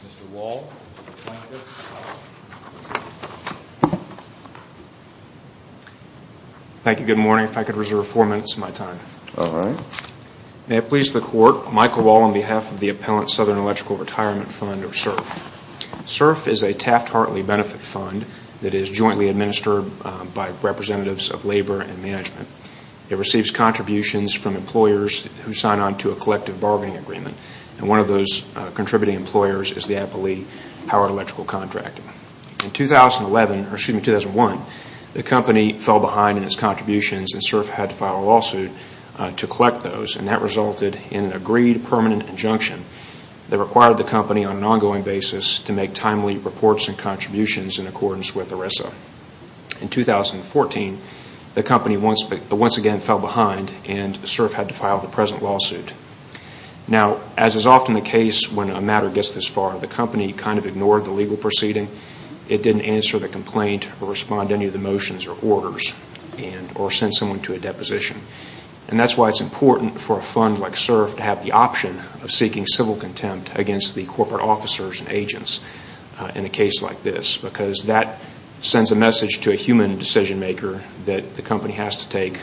Mr. Wall, plaintiff. Thank you. Good morning. If I could reserve four minutes of my time. All right. May it please the Court, Michael Wall on behalf of the Appellant Southern Electrical Retirement Fund, or SERF. SERF is a Taft-Hartley benefit fund that is jointly administered by representatives of labor and management. It receives contributions from employers who sign on to a collective bargaining agreement, and one of those contributing employers is the Appellee Howard Electrical Contracting. In 2011, or excuse me, 2001, the company fell behind in its contributions and SERF had to file a lawsuit to collect those, and that allowed the company on an ongoing basis to make timely reports and contributions in accordance with ERISA. In 2014, the company once again fell behind and SERF had to file the present lawsuit. Now, as is often the case when a matter gets this far, the company kind of ignored the legal proceeding. It didn't answer the complaint or respond to any of the motions or orders or send someone to a deposition. And that's why it's important for a fund like SERF to have the option of seeking civil contempt against the corporate officers and agents in a case like this, because that sends a message to a human decision-maker that the company has to take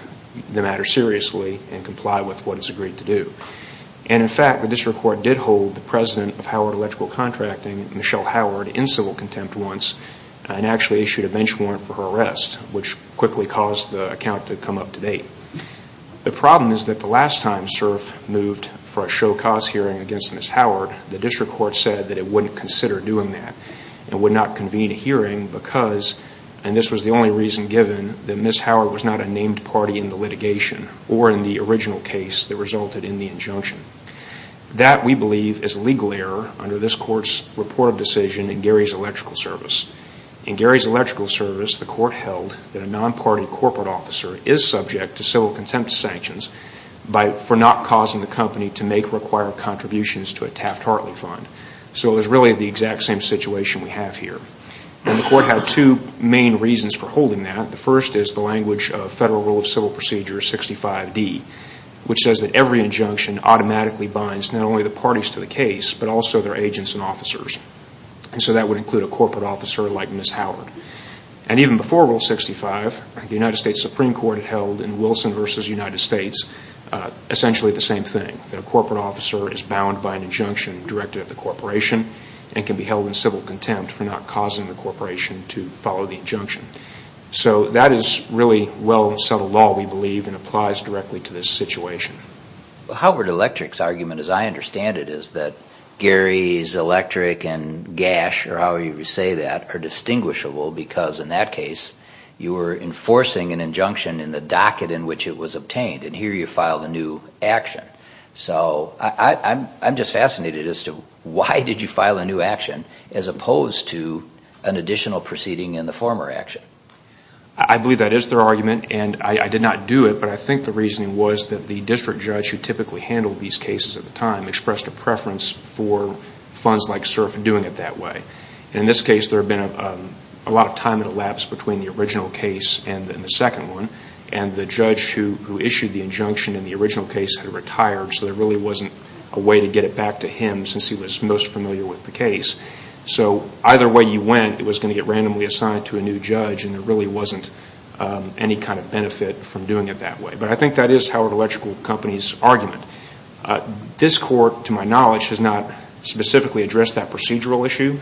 the matter seriously and comply with what it's agreed to do. And in fact, the district court did hold the president of Howard Electrical Contracting, Michelle Howard, in civil contempt once and actually issued a bench warrant for her arrest, which quickly caused the account to come up to date. The problem is that the last time SERF moved for a show-cause hearing against Ms. Howard, the district court said that it wouldn't consider doing that and would not convene a hearing because, and this was the only reason given, that Ms. Howard was not a named party in the litigation or in the original case that resulted in the injunction. That, we believe, is legal error under this court's report of decision in Gary's Electrical Service. In Gary's Electrical Service, the court held that a non-party corporate officer is subject to civil contempt sanctions for not causing the company to make required contributions to a Taft-Hartley fund. So it was really the exact same situation we have here. And the court had two main reasons for holding that. The first is the language of Federal Rule of Civil Procedure 65D, which says that every injunction automatically binds not only the parties to the case, but also their agents and officers. And so that would include a corporate officer like Ms. Howard. And even before Rule 65, the United States Supreme Court held in Wilson v. United States essentially the same thing, that a corporate officer is bound by an injunction directed at the corporation and can be held in civil contempt for not causing the corporation to follow the injunction. So that is really well-settled law, we believe, and applies directly to this situation. Well, Howard Electric's argument, as I understand it, is that Gary's Electric and Gash, or however you say that, are distinguishable because in that case you were enforcing an injunction in the docket in which it was obtained, and here you filed a new action. So I'm just fascinated as to why did you file a new action as opposed to an additional proceeding in the former action? I believe that is their argument, and I did not do it, but I think the reasoning was that the district judge who typically handled these cases at the time expressed a preference for funds like SURF doing it that way. In this case, there had been a lot of time elapsed between the original case and the second one, and the judge who issued the injunction in the original case had retired, so there really wasn't a way to get it back to him since he was most familiar with the case. So either way you went, it was going to get randomly assigned to a new judge, and there really wasn't any kind of benefit from doing it that way. But I think that is Howard Electric Company's argument. This court, to my knowledge, has not specifically addressed that procedural issue,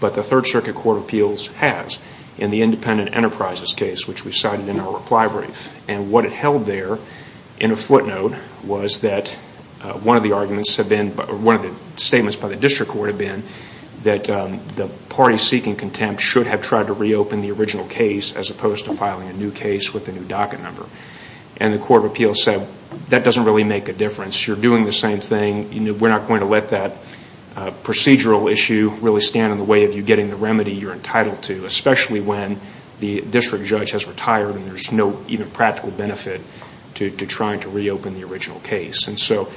but the Third Circuit Court of Appeals has in the independent enterprises case, which we cited in our reply brief. And what it held there in a footnote was that one of the arguments had been, one of the statements by the district court had been that the party seeking contempt should have tried to reopen the original case as opposed to filing a new case with a new docket number. And the Court of Appeals said, that doesn't really make a difference. You're doing the same thing. We're not going to let that procedural issue really stand in the way of you getting the remedy you're entitled to, especially when the district judge has retired and there's no even practical benefit to trying to reopen the original case. And so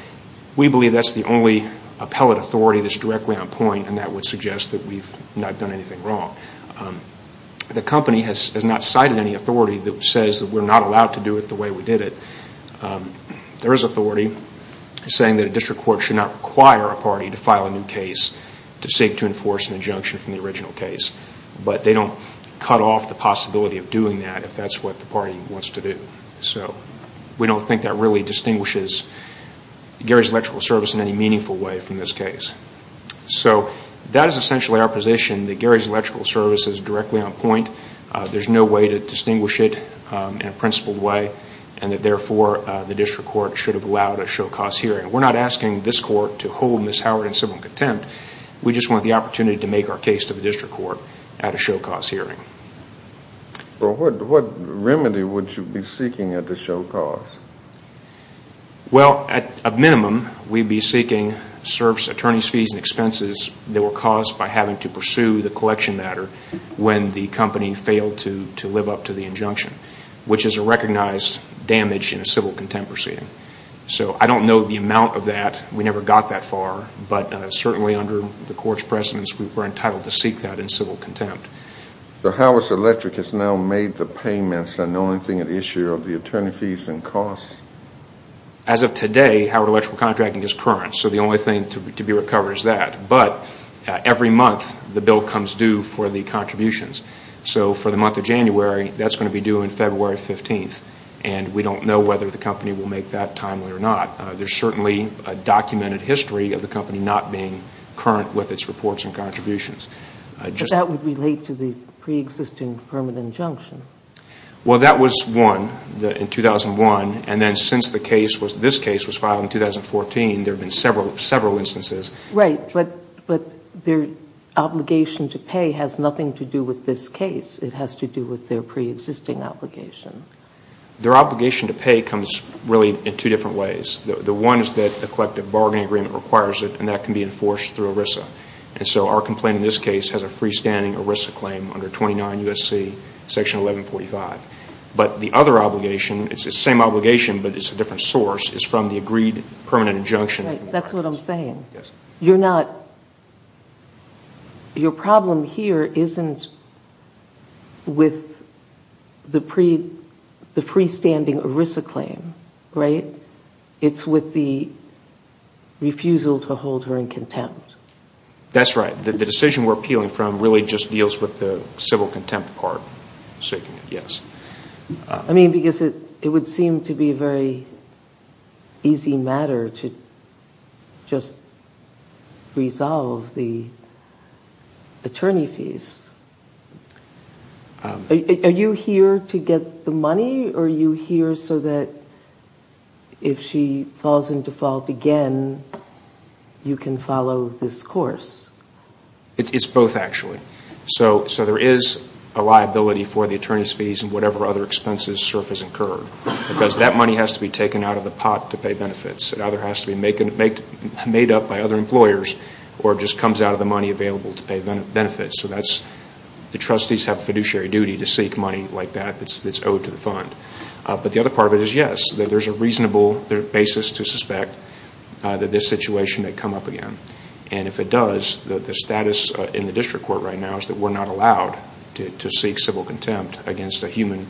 we believe that's the only appellate authority that's directly on point, and that would suggest that we've not done anything wrong. The company has not cited any authority that says that we're not allowed to do it the way we did it. There is authority saying that a district court should not require a party to file a new case to seek to enforce an injunction from the original case, but they don't cut off the possibility of doing that if that's what the party wants to do. So we don't think that really distinguishes Gary's Electrical Service in any meaningful way from this case. So that is essentially our position that Gary's principled way, and that therefore the district court should have allowed a show-cause hearing. We're not asking this court to hold Ms. Howard in civil contempt. We just want the opportunity to make our case to the district court at a show-cause hearing. What remedy would you be seeking at the show-cause? Well at a minimum, we'd be seeking service attorney's fees and expenses that were caused by having to pursue the collection matter when the company failed to live up to the recognized damage in a civil contempt proceeding. So I don't know the amount of that. We never got that far, but certainly under the court's precedence, we were entitled to seek that in civil contempt. So Howard Electric has now made the payments and the only thing at issue are the attorney fees and costs? As of today, Howard Electrical Contracting is current. So the only thing to be recovered is that. But every month, the bill comes due for the contributions. So for the month of And we don't know whether the company will make that timely or not. There's certainly a documented history of the company not being current with its reports and contributions. But that would relate to the preexisting permanent injunction. Well that was one in 2001. And then since the case was, this case was filed in 2014, there have been several, several instances. Right. But their obligation to pay has nothing to do with this case. It has to do with their Their obligation to pay comes really in two different ways. The one is that a collective bargaining agreement requires it and that can be enforced through ERISA. And so our complaint in this case has a freestanding ERISA claim under 29 U.S.C. section 1145. But the other obligation, it's the same obligation but it's a different source, is from the agreed permanent injunction. That's what I'm saying. You're not, your problem here isn't with the freestanding ERISA claim, right? It's with the refusal to hold her in contempt. That's right. The decision we're appealing from really just deals with the civil contempt part. I mean because it would seem to be a very easy matter to just resolve the attorney fees. Are you here to get the money or are you here so that if she falls into fault again, you can follow this course? It's both actually. So there is a liability for the attorney fees and whatever other expenses surface incurred because that money has to be taken out of the pot to pay benefits. It either has to be made up by other employers or just comes out of the money available to pay benefits. So that's, the trustees have a fiduciary duty to seek money like that that's owed to the fund. But the other part of it is yes, there's a reasonable basis to suspect that this situation may come up again. And if it does, the status in the district court right now is that we're not allowed to seek civil contempt against a human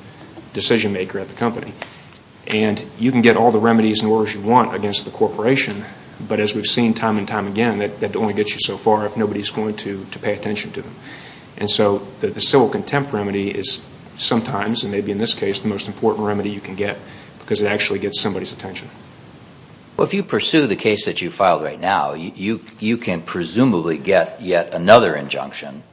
decision maker at the company. And you can get all the remedies and orders you want against the corporation, but as we've seen time and time again, that only gets you so far if nobody's going to pay attention to them. And so the civil contempt remedy is sometimes, and maybe in this case, the most important remedy you can get because it actually gets somebody's attention. Well, if you pursue the case that you filed right now, you can presumably get yet another injunction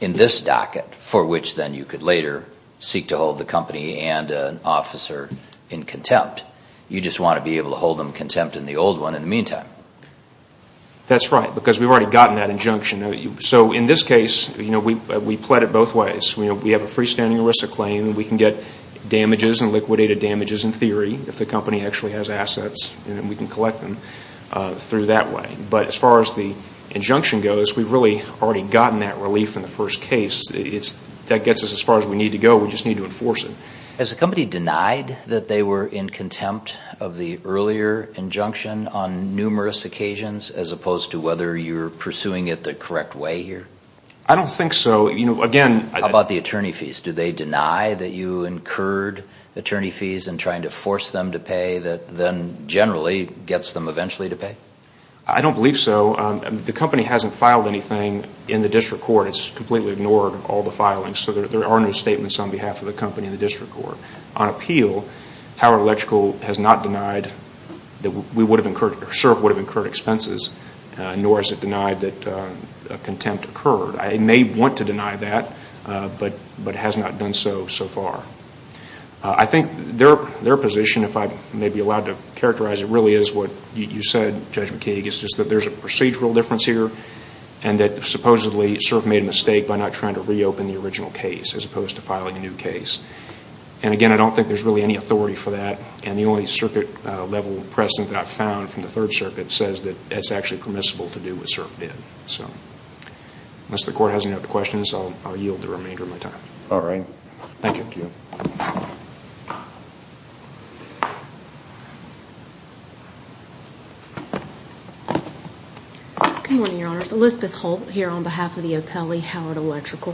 in this docket for which then you could later seek to hold the company and an officer in contempt. You just want to be able to hold them in contempt in the old one in the meantime. That's right, because we've already gotten that injunction. So in this case, we pled it both ways. We have a freestanding ERISA claim and we can get damages and liquidated damages in theory if the company actually has assets and we can collect them through that way. But as far as the injunction goes, we've really already gotten that relief in the first case. That gets us as far as we need to go. We just need to enforce it. Has the company denied that they were in contempt of the earlier injunction on numerous occasions as opposed to whether you're pursuing it the correct way here? I don't think so. Again... What about the attorney fees? Do they deny that you incurred attorney fees in trying to force them to pay that then generally gets them eventually to pay? I don't believe so. The company hasn't filed anything in the district court. It's completely ignored all the filings. So there are no statements on behalf of the company in the district court. On appeal, Howard Electrical has not denied that we would have incurred expenses, nor has it denied that contempt occurred. I may want to deny that, but it has not done so, so far. I think their position, if I may be allowed to characterize it, really is what you said, Judge McKeague, is just that there's a procedural difference here and that supposedly CERF made a mistake by not trying to reopen the original case as opposed to filing a new case. And again, I don't think there's really any authority for that. And the only circuit level precedent that I've found from the Third Circuit says that it's actually permissible to do what CERF did. Unless the court has any other questions, I'll yield the remainder of my time. All right. Thank you. Good morning, Your Honors. Elizabeth Holt here on behalf of the O'Pelley Howard Electrical.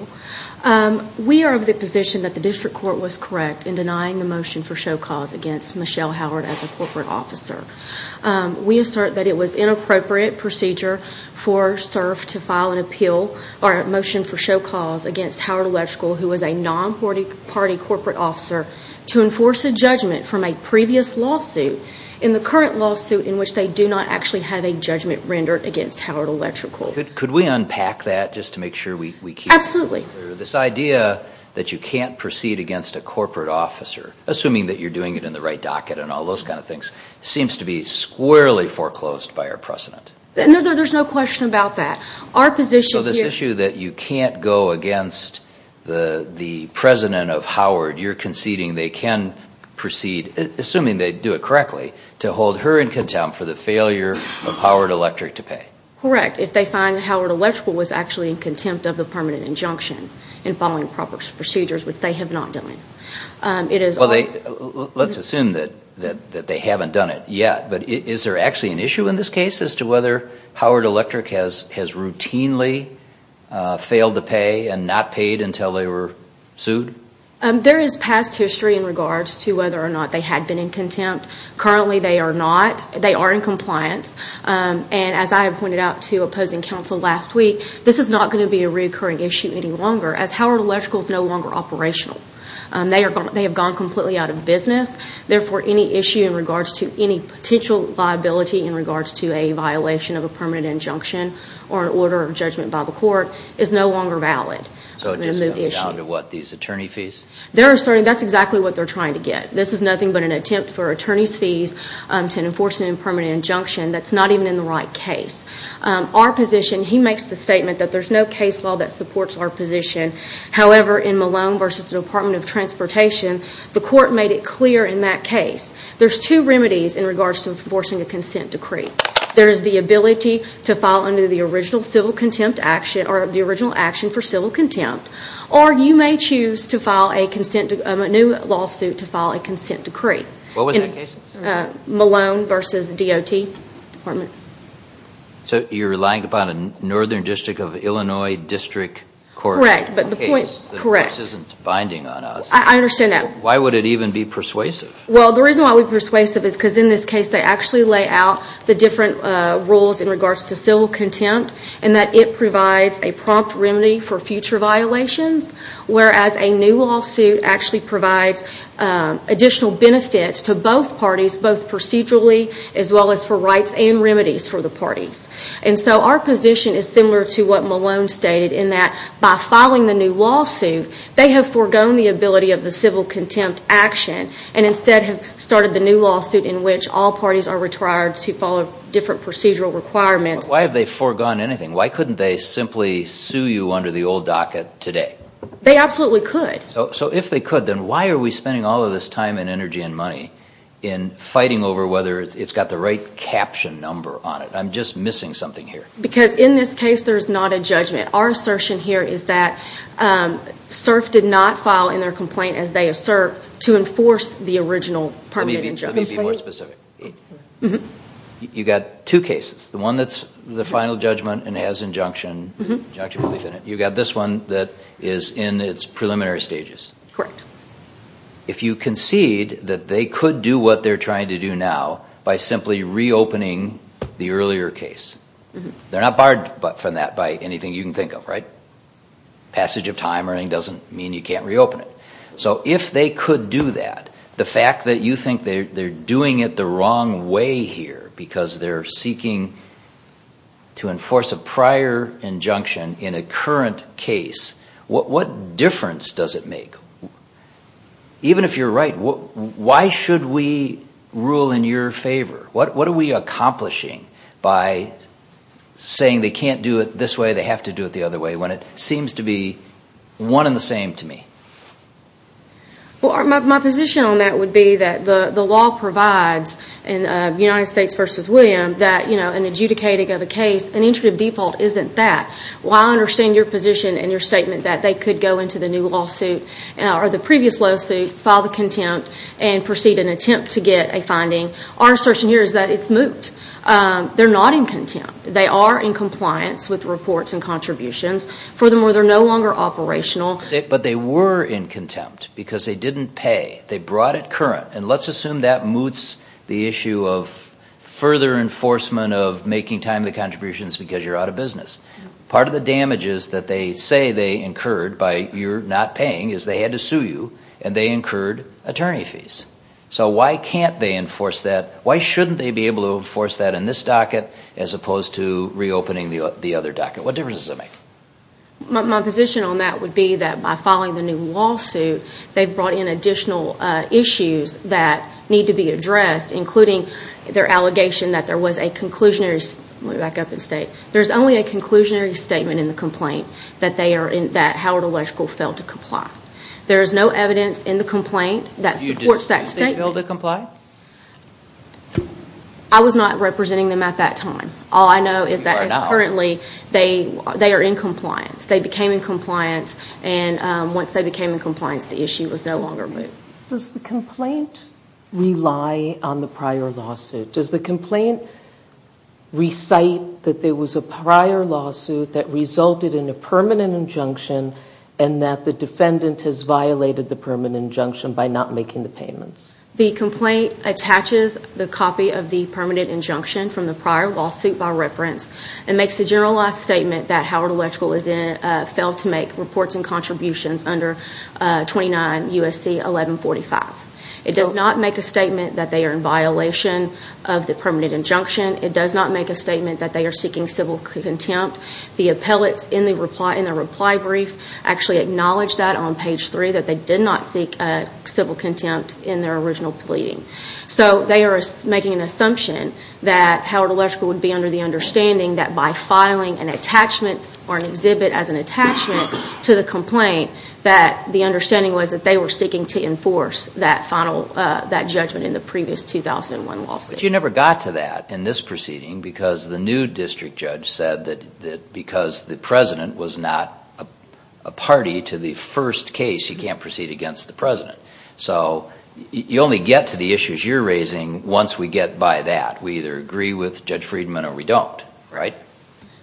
We are of the position that the district court was correct in denying the motion for show cause against Michelle Howard as a corporate officer. We assert that it was inappropriate procedure for CERF to file an appeal or a motion for show cause against Howard Electrical, who was a non-party corporate officer, to enforce a judgment from a previous lawsuit in the current lawsuit in which they do not actually have a judgment rendered against Howard Electrical. Could we unpack that just to make sure we keep it clear? Absolutely. This idea that you can't proceed against a corporate officer, assuming that you're foreclosed by our precedent? There's no question about that. So this issue that you can't go against the president of Howard, you're conceding they can proceed, assuming they do it correctly, to hold her in contempt for the failure of Howard Electric to pay? Correct. If they find Howard Electrical was actually in contempt of the permanent injunction in following proper procedures, which they have not done. Let's assume that they haven't done it yet, but is there actually an issue in this case as to whether Howard Electric has routinely failed to pay and not paid until they were sued? There is past history in regards to whether or not they had been in contempt. Currently they are not. They are in compliance. And as I pointed out to opposing counsel last week, this is not going to be a reoccurring issue any longer as Howard They have gone completely out of business. Therefore, any issue in regards to any potential liability in regards to a violation of a permanent injunction or an order of judgment by the court is no longer valid. So it just comes down to what, these attorney fees? That's exactly what they're trying to get. This is nothing but an attempt for attorney's fees to enforce a permanent injunction that's not even in the right case. Our position, he makes the statement that there's no case law that supports our transportation. The court made it clear in that case. There's two remedies in regards to enforcing a consent decree. There's the ability to file under the original civil contempt action or the original action for civil contempt. Or you may choose to file a new lawsuit to file a consent decree. What was that case? Malone v. DOT Department. So you're relying upon a Northern District of Illinois District Court case. Correct. But the point is the case isn't binding on us. I understand that. Why would it even be persuasive? Well, the reason why we're persuasive is because in this case they actually lay out the different rules in regards to civil contempt and that it provides a prompt remedy for future violations, whereas a new lawsuit actually provides additional benefits to both parties, both procedurally as well as for rights and remedies for the parties. And so our position is similar to what Malone stated in that by filing the new remedy of the civil contempt action and instead have started the new lawsuit in which all parties are required to follow different procedural requirements. Why have they foregone anything? Why couldn't they simply sue you under the old docket today? They absolutely could. So if they could, then why are we spending all of this time and energy and money in fighting over whether it's got the right caption number on it? I'm just missing something here. Because in this case there's not a judgment. Our assertion here is that SIRF did not file in their complaint as they assert to enforce the original permanent injunction. Let me be more specific. You've got two cases, the one that's the final judgment and has injunction belief in it. You've got this one that is in its preliminary stages. Correct. If you concede that they could do what they're trying to do now by simply reopening the earlier case, they're not barred from that by anything you can think of, right? Passage of time doesn't mean you can't reopen it. So if they could do that, the fact that you think they're doing it the wrong way here because they're seeking to enforce a prior injunction in a current case, what difference does it make? Even if you're right, why should we rule in your favor? What are we accomplishing by saying they can't do it this way, they have to do it the other way when it seems to be one and the same to me? Well, my position on that would be that the law provides in United States v. William that, you know, in adjudicating of a case, an entry of default isn't that. Well, I understand your position and your statement that they could go into the new lawsuit or the previous lawsuit, file the contempt, and proceed in attempt to get a finding. Our assertion here is that it's moot. They're not in contempt. They are in compliance with reports and contributions. Furthermore, they're no longer operational. But they were in contempt because they didn't pay. They brought it current. And let's assume that moots the issue of further enforcement of making timely contributions because you're out of business. Part of the damages that they say they incurred by you're not paying is they had to sue you and they incurred attorney fees. So why can't they enforce that? Why shouldn't they be able to enforce that in this docket as opposed to reopening the other docket? What difference does that make? My position on that would be that by filing the new lawsuit, they've brought in additional issues that need to be addressed, including their allegation that there was a conclusionary. Let me back up and state. There's only a conclusionary statement in the complaint that Howard Electrical failed to comply. There is no evidence in the complaint that supports that statement. Were they able to comply? I was not representing them at that time. All I know is that currently they are in compliance. They became in compliance. And once they became in compliance, the issue was no longer moot. Does the complaint rely on the prior lawsuit? Does the complaint recite that there was a prior lawsuit that resulted in a permanent injunction and that the defendant has violated the permanent injunction by not making the payments? The complaint attaches the copy of the permanent injunction from the prior lawsuit by reference and makes a generalized statement that Howard Electrical failed to make reports and contributions under 29 U.S.C. 1145. It does not make a statement that they are in violation of the permanent injunction. It does not make a statement that they are seeking civil contempt. The appellates in the reply brief actually acknowledge that on page three, that they did not seek civil contempt in their original pleading. So they are making an assumption that Howard Electrical would be under the understanding that by filing an attachment or an exhibit as an attachment to the complaint that the understanding was that they were seeking to enforce that judgment in the previous 2001 lawsuit. But you never got to that in this proceeding because the new district judge said that because the president was not a party to the first case, you can't proceed against the president. So you only get to the issues you're raising once we get by that. We either agree with Judge Friedman or we don't, right?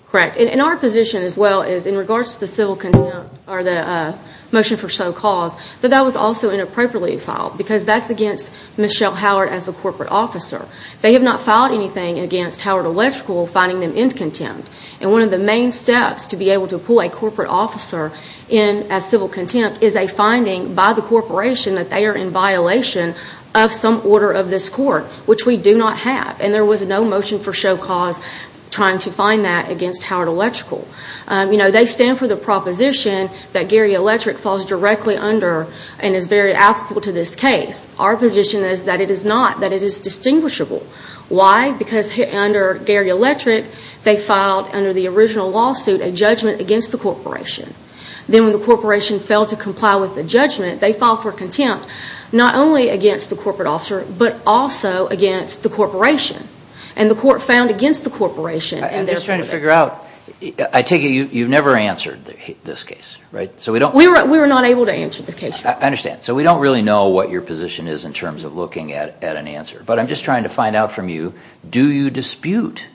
Correct. And our position as well is in regards to the civil contempt or the motion for show cause, that that was also inappropriately filed because that's against Michelle Howard as a corporate officer. They have not filed anything against Howard Electrical finding them in civil contempt. And one of the main steps to be able to pull a corporate officer in as civil contempt is a finding by the corporation that they are in violation of some order of this court, which we do not have. And there was no motion for show cause trying to find that against Howard Electrical. They stand for the proposition that Gary Electric falls directly under and is very applicable to this case. Our position is that it is not, that it is distinguishable. Why? Because under Gary Electric, they filed under the original lawsuit, a judgment against the corporation. Then when the corporation failed to comply with the judgment, they filed for contempt, not only against the corporate officer, but also against the corporation. And the court found against the corporation. I'm just trying to figure out. I take it you've never answered this case, right? We were not able to answer the case. I understand. So we don't really know what your position is in terms of looking at an answer. But I'm just trying to find out from you, do you dispute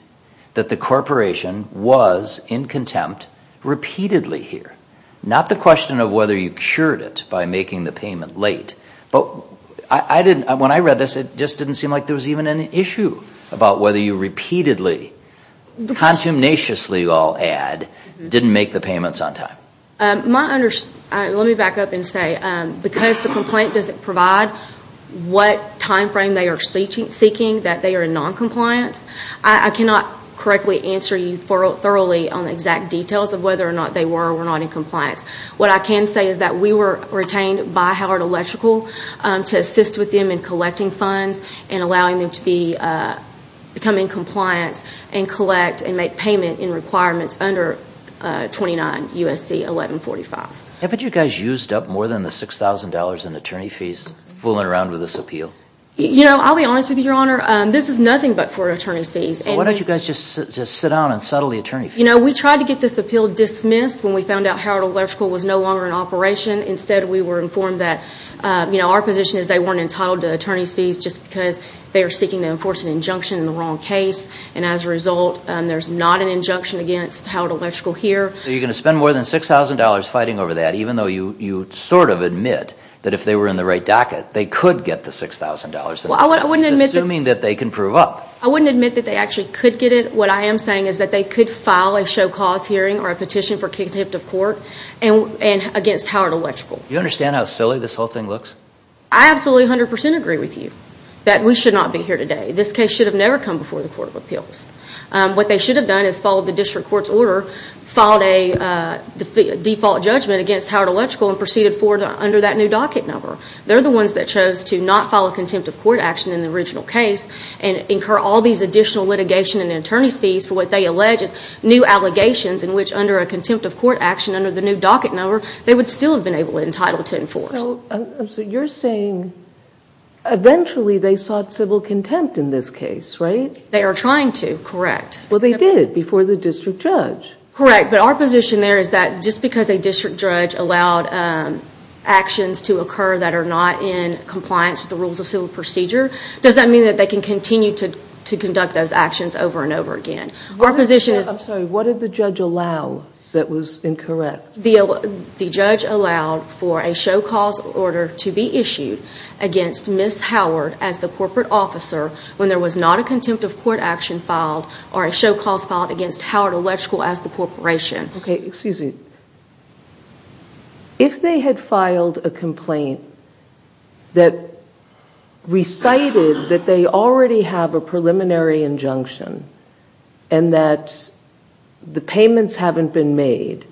that the corporation was in contempt repeatedly here? Not the question of whether you cured it by making the payment late. But I didn't, when I read this, it just didn't seem like there was even an issue about whether you repeatedly, contumaciously I'll add, didn't make the payments on time. My understanding, let me back up and say, because the complaint doesn't provide what time frame they are seeking, that they are in noncompliance. I cannot correctly answer you thoroughly on the exact details of whether or not they were or were not in compliance. What I can say is that we were retained by Howard Electrical to assist with them in collecting funds and allowing them to become in compliance and collect and make payment in requirements under 29 U.S.C. 1145. Haven't you guys used up more than the $6,000 in attorney fees fooling around with this appeal? You know, I'll be honest with you, Your Honor, this is nothing but for attorney's fees. Why don't you guys just sit down and settle the attorney fees? You know, we tried to get this appeal dismissed when we found out Howard Electrical was no longer in operation. Instead, we were informed that, you know, our position is they weren't entitled to attorney's fees just because they were seeking to enforce an injunction in the wrong case. And as a result, there's not an injunction against Howard Electrical here. So you're going to spend more than $6,000 fighting over that even though you sort of admit that if they were in the right docket, they could get the $6,000? Well, I wouldn't admit that. Assuming that they can prove up. I wouldn't admit that they actually could get it. What I am saying is that they could file a show cause hearing or a petition for contempt of court against Howard Electrical. Do you understand how silly this whole thing looks? I absolutely 100% agree with you that we should not be here today. This case should have never come before the Court of Appeals. What they should have done is followed the district court's order, filed a default judgment against Howard Electrical, and proceeded forward under that new docket number. They're the ones that chose to not file a contempt of court action in the original case and incur all these additional litigation and attorney's fees for what they allege is new allegations in which under a contempt of court action under the new docket number, they would still have been able and entitled to enforce. So you're saying eventually they sought civil contempt in this case, right? They are trying to, correct. Well, they did before the district judge. Correct. But our position there is that just because a district judge allowed actions to occur that are not in compliance with the rules of civil procedure, does that mean that they can continue to conduct those actions over and over again? I'm sorry. What did the judge allow that was incorrect? The judge allowed for a show cause order to be issued against Ms. Howard as the corporate officer when there was not a contempt of court action filed or a show cause filed against Howard Electrical as the corporation. Okay. Excuse me. If they had filed a complaint that recited that they already have a preliminary injunction and that the payments haven't been made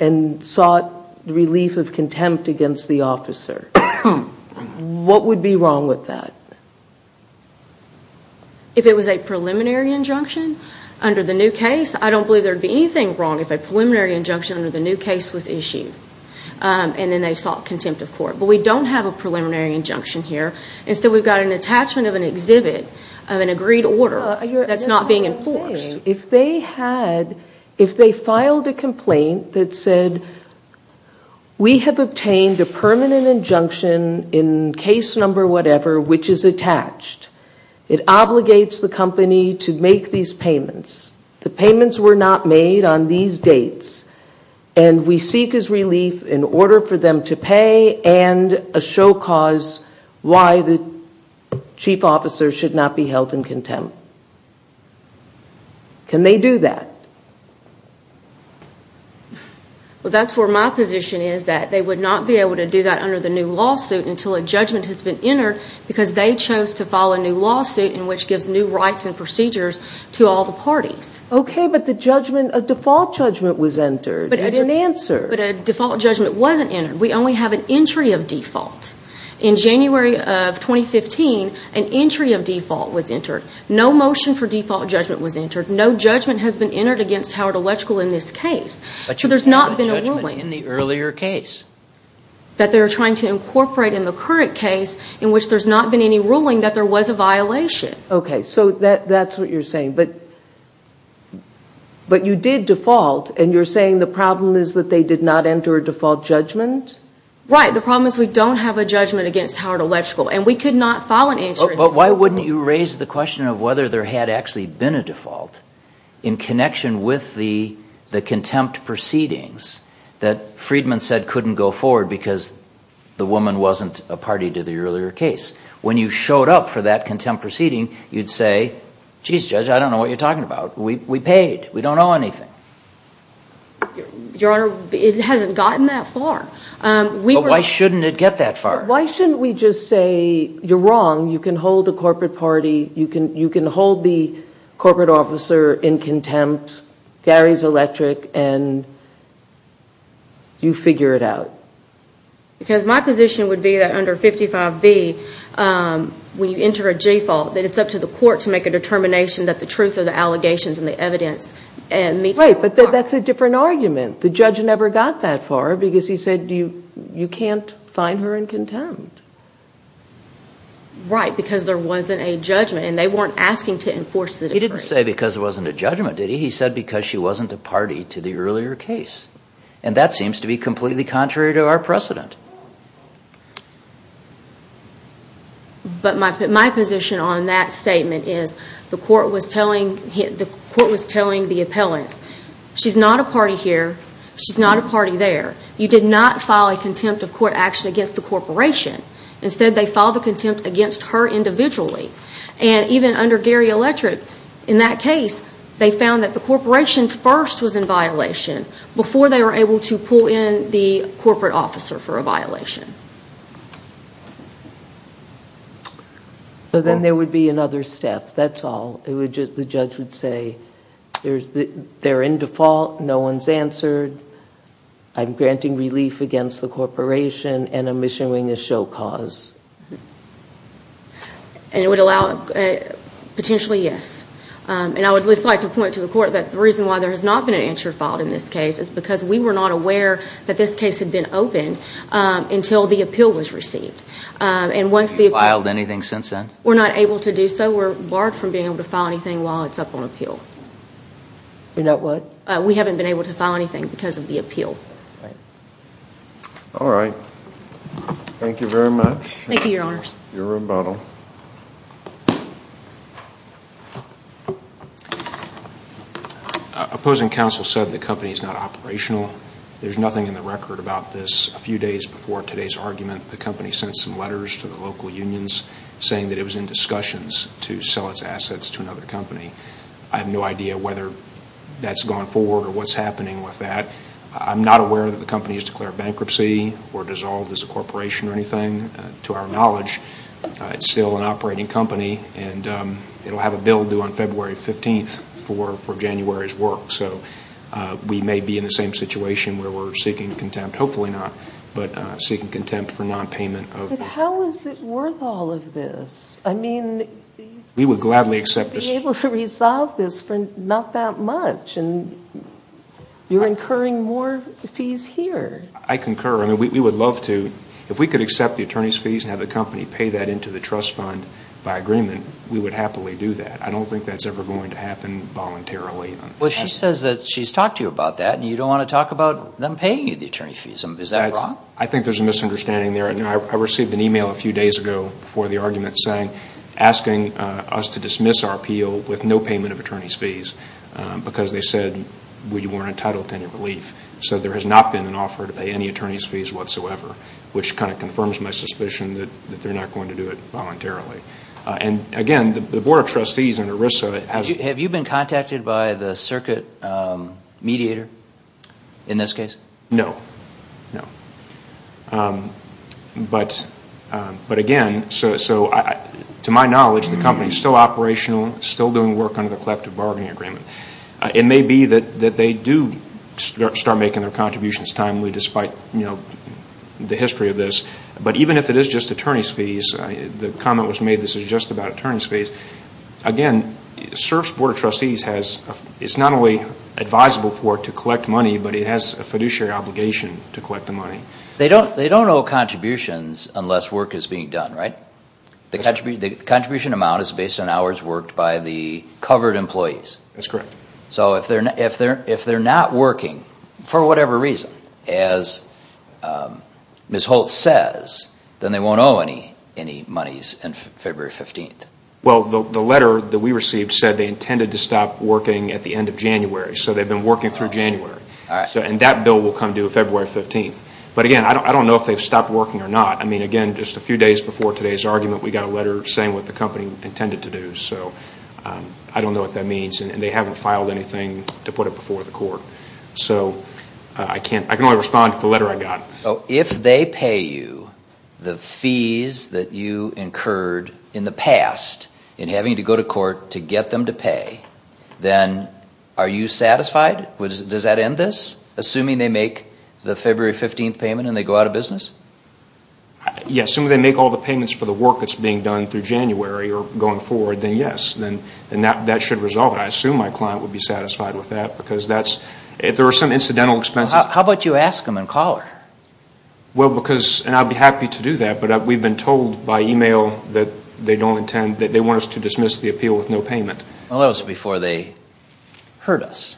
and sought relief of contempt against the officer, what would be wrong with that? If it was a preliminary injunction under the new case, I don't believe there would be anything wrong if a preliminary injunction under the new case was issued and then they sought contempt of court. But we don't have a preliminary injunction here. Instead, we've got an attachment of an exhibit of an agreed order that's not being enforced. Okay. If they filed a complaint that said, we have obtained a permanent injunction in case number whatever, which is attached, it obligates the company to make these payments. The payments were not made on these dates and we seek as relief in order for them to pay and a show cause why the chief officer should not be held in contempt. Okay. Can they do that? Well, that's where my position is, that they would not be able to do that under the new lawsuit until a judgment has been entered because they chose to file a new lawsuit in which gives new rights and procedures to all the parties. Okay, but the judgment, a default judgment was entered. It didn't answer. But a default judgment wasn't entered. We only have an entry of default. In January of 2015, an entry of default was entered. No motion for default judgment was entered. No judgment has been entered against Howard Electrical in this case. So there's not been a ruling. But you did have a judgment in the earlier case. That they were trying to incorporate in the current case in which there's not been any ruling that there was a violation. Okay, so that's what you're saying. But you did default and you're saying the problem is that they did not enter a default judgment? Right. The problem is we don't have a judgment against Howard Electrical. And we could not file an entry. But why wouldn't you raise the question of whether there had actually been a default in connection with the contempt proceedings that Friedman said couldn't go forward because the woman wasn't a party to the earlier case? When you showed up for that contempt proceeding, you'd say, geez, Judge, I don't know what you're talking about. We paid. We don't owe anything. Your Honor, it hasn't gotten that far. But why shouldn't it get that far? Why shouldn't we just say, you're wrong, you can hold the corporate party, you can hold the corporate officer in contempt, Gary's electric, and you figure it out? Because my position would be that under 55B, when you enter a default, that it's up to the court to make a determination that the truth of the allegations and the evidence meets the law. Right, but that's a different argument. The judge never got that far because he said you can't find her in contempt. Right, because there wasn't a judgment, and they weren't asking to enforce the decree. He didn't say because there wasn't a judgment, did he? He said because she wasn't a party to the earlier case. And that seems to be completely contrary to our precedent. But my position on that statement is the court was telling the appellants, she's not a party here, she's not a party there. You did not file a contempt of court action against the corporation. Instead, they filed a contempt against her individually. And even under Gary Electric, in that case, they found that the corporation first was in violation before they were able to pull in the corporate officer for a violation. So then there would be another step, that's all. The judge would say they're in default, no one's answered, I'm granting relief against the corporation, and I'm issuing a show cause. And it would allow, potentially, yes. And I would at least like to point to the court that the reason why there has not been an answer filed in this case is because we were not aware that this case had been open until the appeal was received. And once the appeal was received, we're not able to do so. No, we're barred from being able to file anything while it's up on appeal. You're not what? We haven't been able to file anything because of the appeal. All right. Thank you very much. Thank you, Your Honors. Your rebuttal. Opposing counsel said the company's not operational. There's nothing in the record about this. A few days before today's argument, the company sent some letters to the local unions saying that it was in discussions to sell its assets to another company. I have no idea whether that's gone forward or what's happening with that. I'm not aware that the company has declared bankruptcy or dissolved as a corporation or anything. To our knowledge, it's still an operating company, and it will have a bill due on February 15th for January's work. So we may be in the same situation where we're seeking contempt, hopefully not, but seeking contempt for nonpayment. But how is it worth all of this? I mean, we would gladly accept this. You'd be able to resolve this for not that much, and you're incurring more fees here. I concur. I mean, we would love to. If we could accept the attorney's fees and have the company pay that into the trust fund by agreement, we would happily do that. I don't think that's ever going to happen voluntarily. Well, she says that she's talked to you about that, and you don't want to talk about them paying you the attorney fees. Is that wrong? I think there's a misunderstanding there. I received an e-mail a few days ago before the argument saying, asking us to dismiss our appeal with no payment of attorney's fees because they said we weren't entitled to any relief. So there has not been an offer to pay any attorney's fees whatsoever, which kind of confirms my suspicion that they're not going to do it voluntarily. And, again, the Board of Trustees in ERISA has... Have you been contacted by the circuit mediator in this case? No. But, again, to my knowledge, the company is still operational, still doing work under the collective bargaining agreement. It may be that they do start making their contributions timely despite the history of this. But even if it is just attorney's fees, the comment was made this is just about attorney's fees, again, CERF's Board of Trustees is not only advisable for to collect money, but it has a fiduciary obligation to collect the money. They don't owe contributions unless work is being done, right? The contribution amount is based on hours worked by the covered employees. That's correct. So if they're not working for whatever reason, as Ms. Holt says, then they won't owe any monies on February 15th. Well, the letter that we received said they intended to stop working at the end of January, so they've been working through January, and that bill will come due February 15th. But, again, I don't know if they've stopped working or not. I mean, again, just a few days before today's argument, we got a letter saying what the company intended to do. So I don't know what that means, and they haven't filed anything to put it before the court. So I can only respond to the letter I got. So if they pay you the fees that you incurred in the past in having to go to court to get them to pay, then are you satisfied? Does that end this, assuming they make the February 15th payment and they go out of business? Yes. Assuming they make all the payments for the work that's being done through January or going forward, then yes. Then that should resolve it. I assume my client would be satisfied with that because that's – if there are some incidental expenses. How about you ask them and call her? Well, because – and I'd be happy to do that, but we've been told by email that they don't intend – that they want us to dismiss the appeal with no payment. Well, that was before they heard us.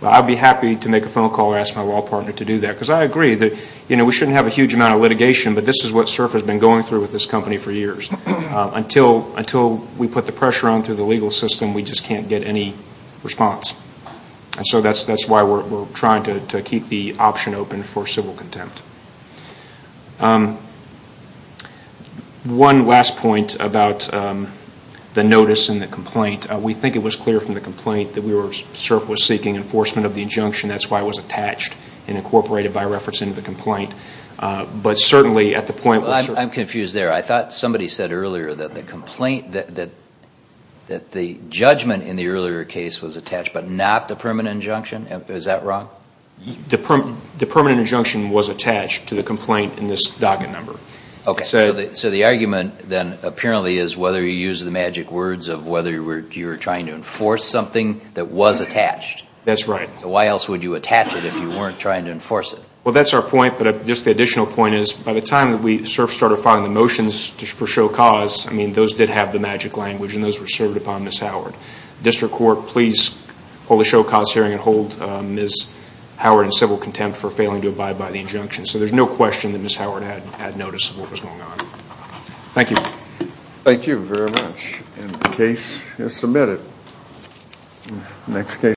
Well, I'd be happy to make a phone call or ask my law partner to do that because I agree that, you know, we shouldn't have a huge amount of litigation, but this is what SURF has been going through with this company for years. Until we put the pressure on through the legal system, we just can't get any response. And so that's why we're trying to keep the option open for civil contempt. One last point about the notice and the complaint. We think it was clear from the complaint that SURF was seeking enforcement of the injunction. That's why it was attached and incorporated by reference into the complaint. But certainly at the point – Well, I'm confused there. I thought somebody said earlier that the complaint – that the judgment in the earlier case was attached, but not the permanent injunction? Is that wrong? The permanent injunction was attached to the complaint in this docket number. Okay. So the argument then apparently is whether you use the magic words of whether you were trying to enforce something that was attached. That's right. So why else would you attach it if you weren't trying to enforce it? Well, that's our point, but just the additional point is by the time that we started filing the motions for show cause, I mean, those did have the magic language and those were served upon Ms. Howard. District Court, please hold a show cause hearing and hold Ms. Howard in civil contempt for failing to abide by the injunction. So there's no question that Ms. Howard had notice of what was going on. Thank you. Thank you very much. And the case is submitted.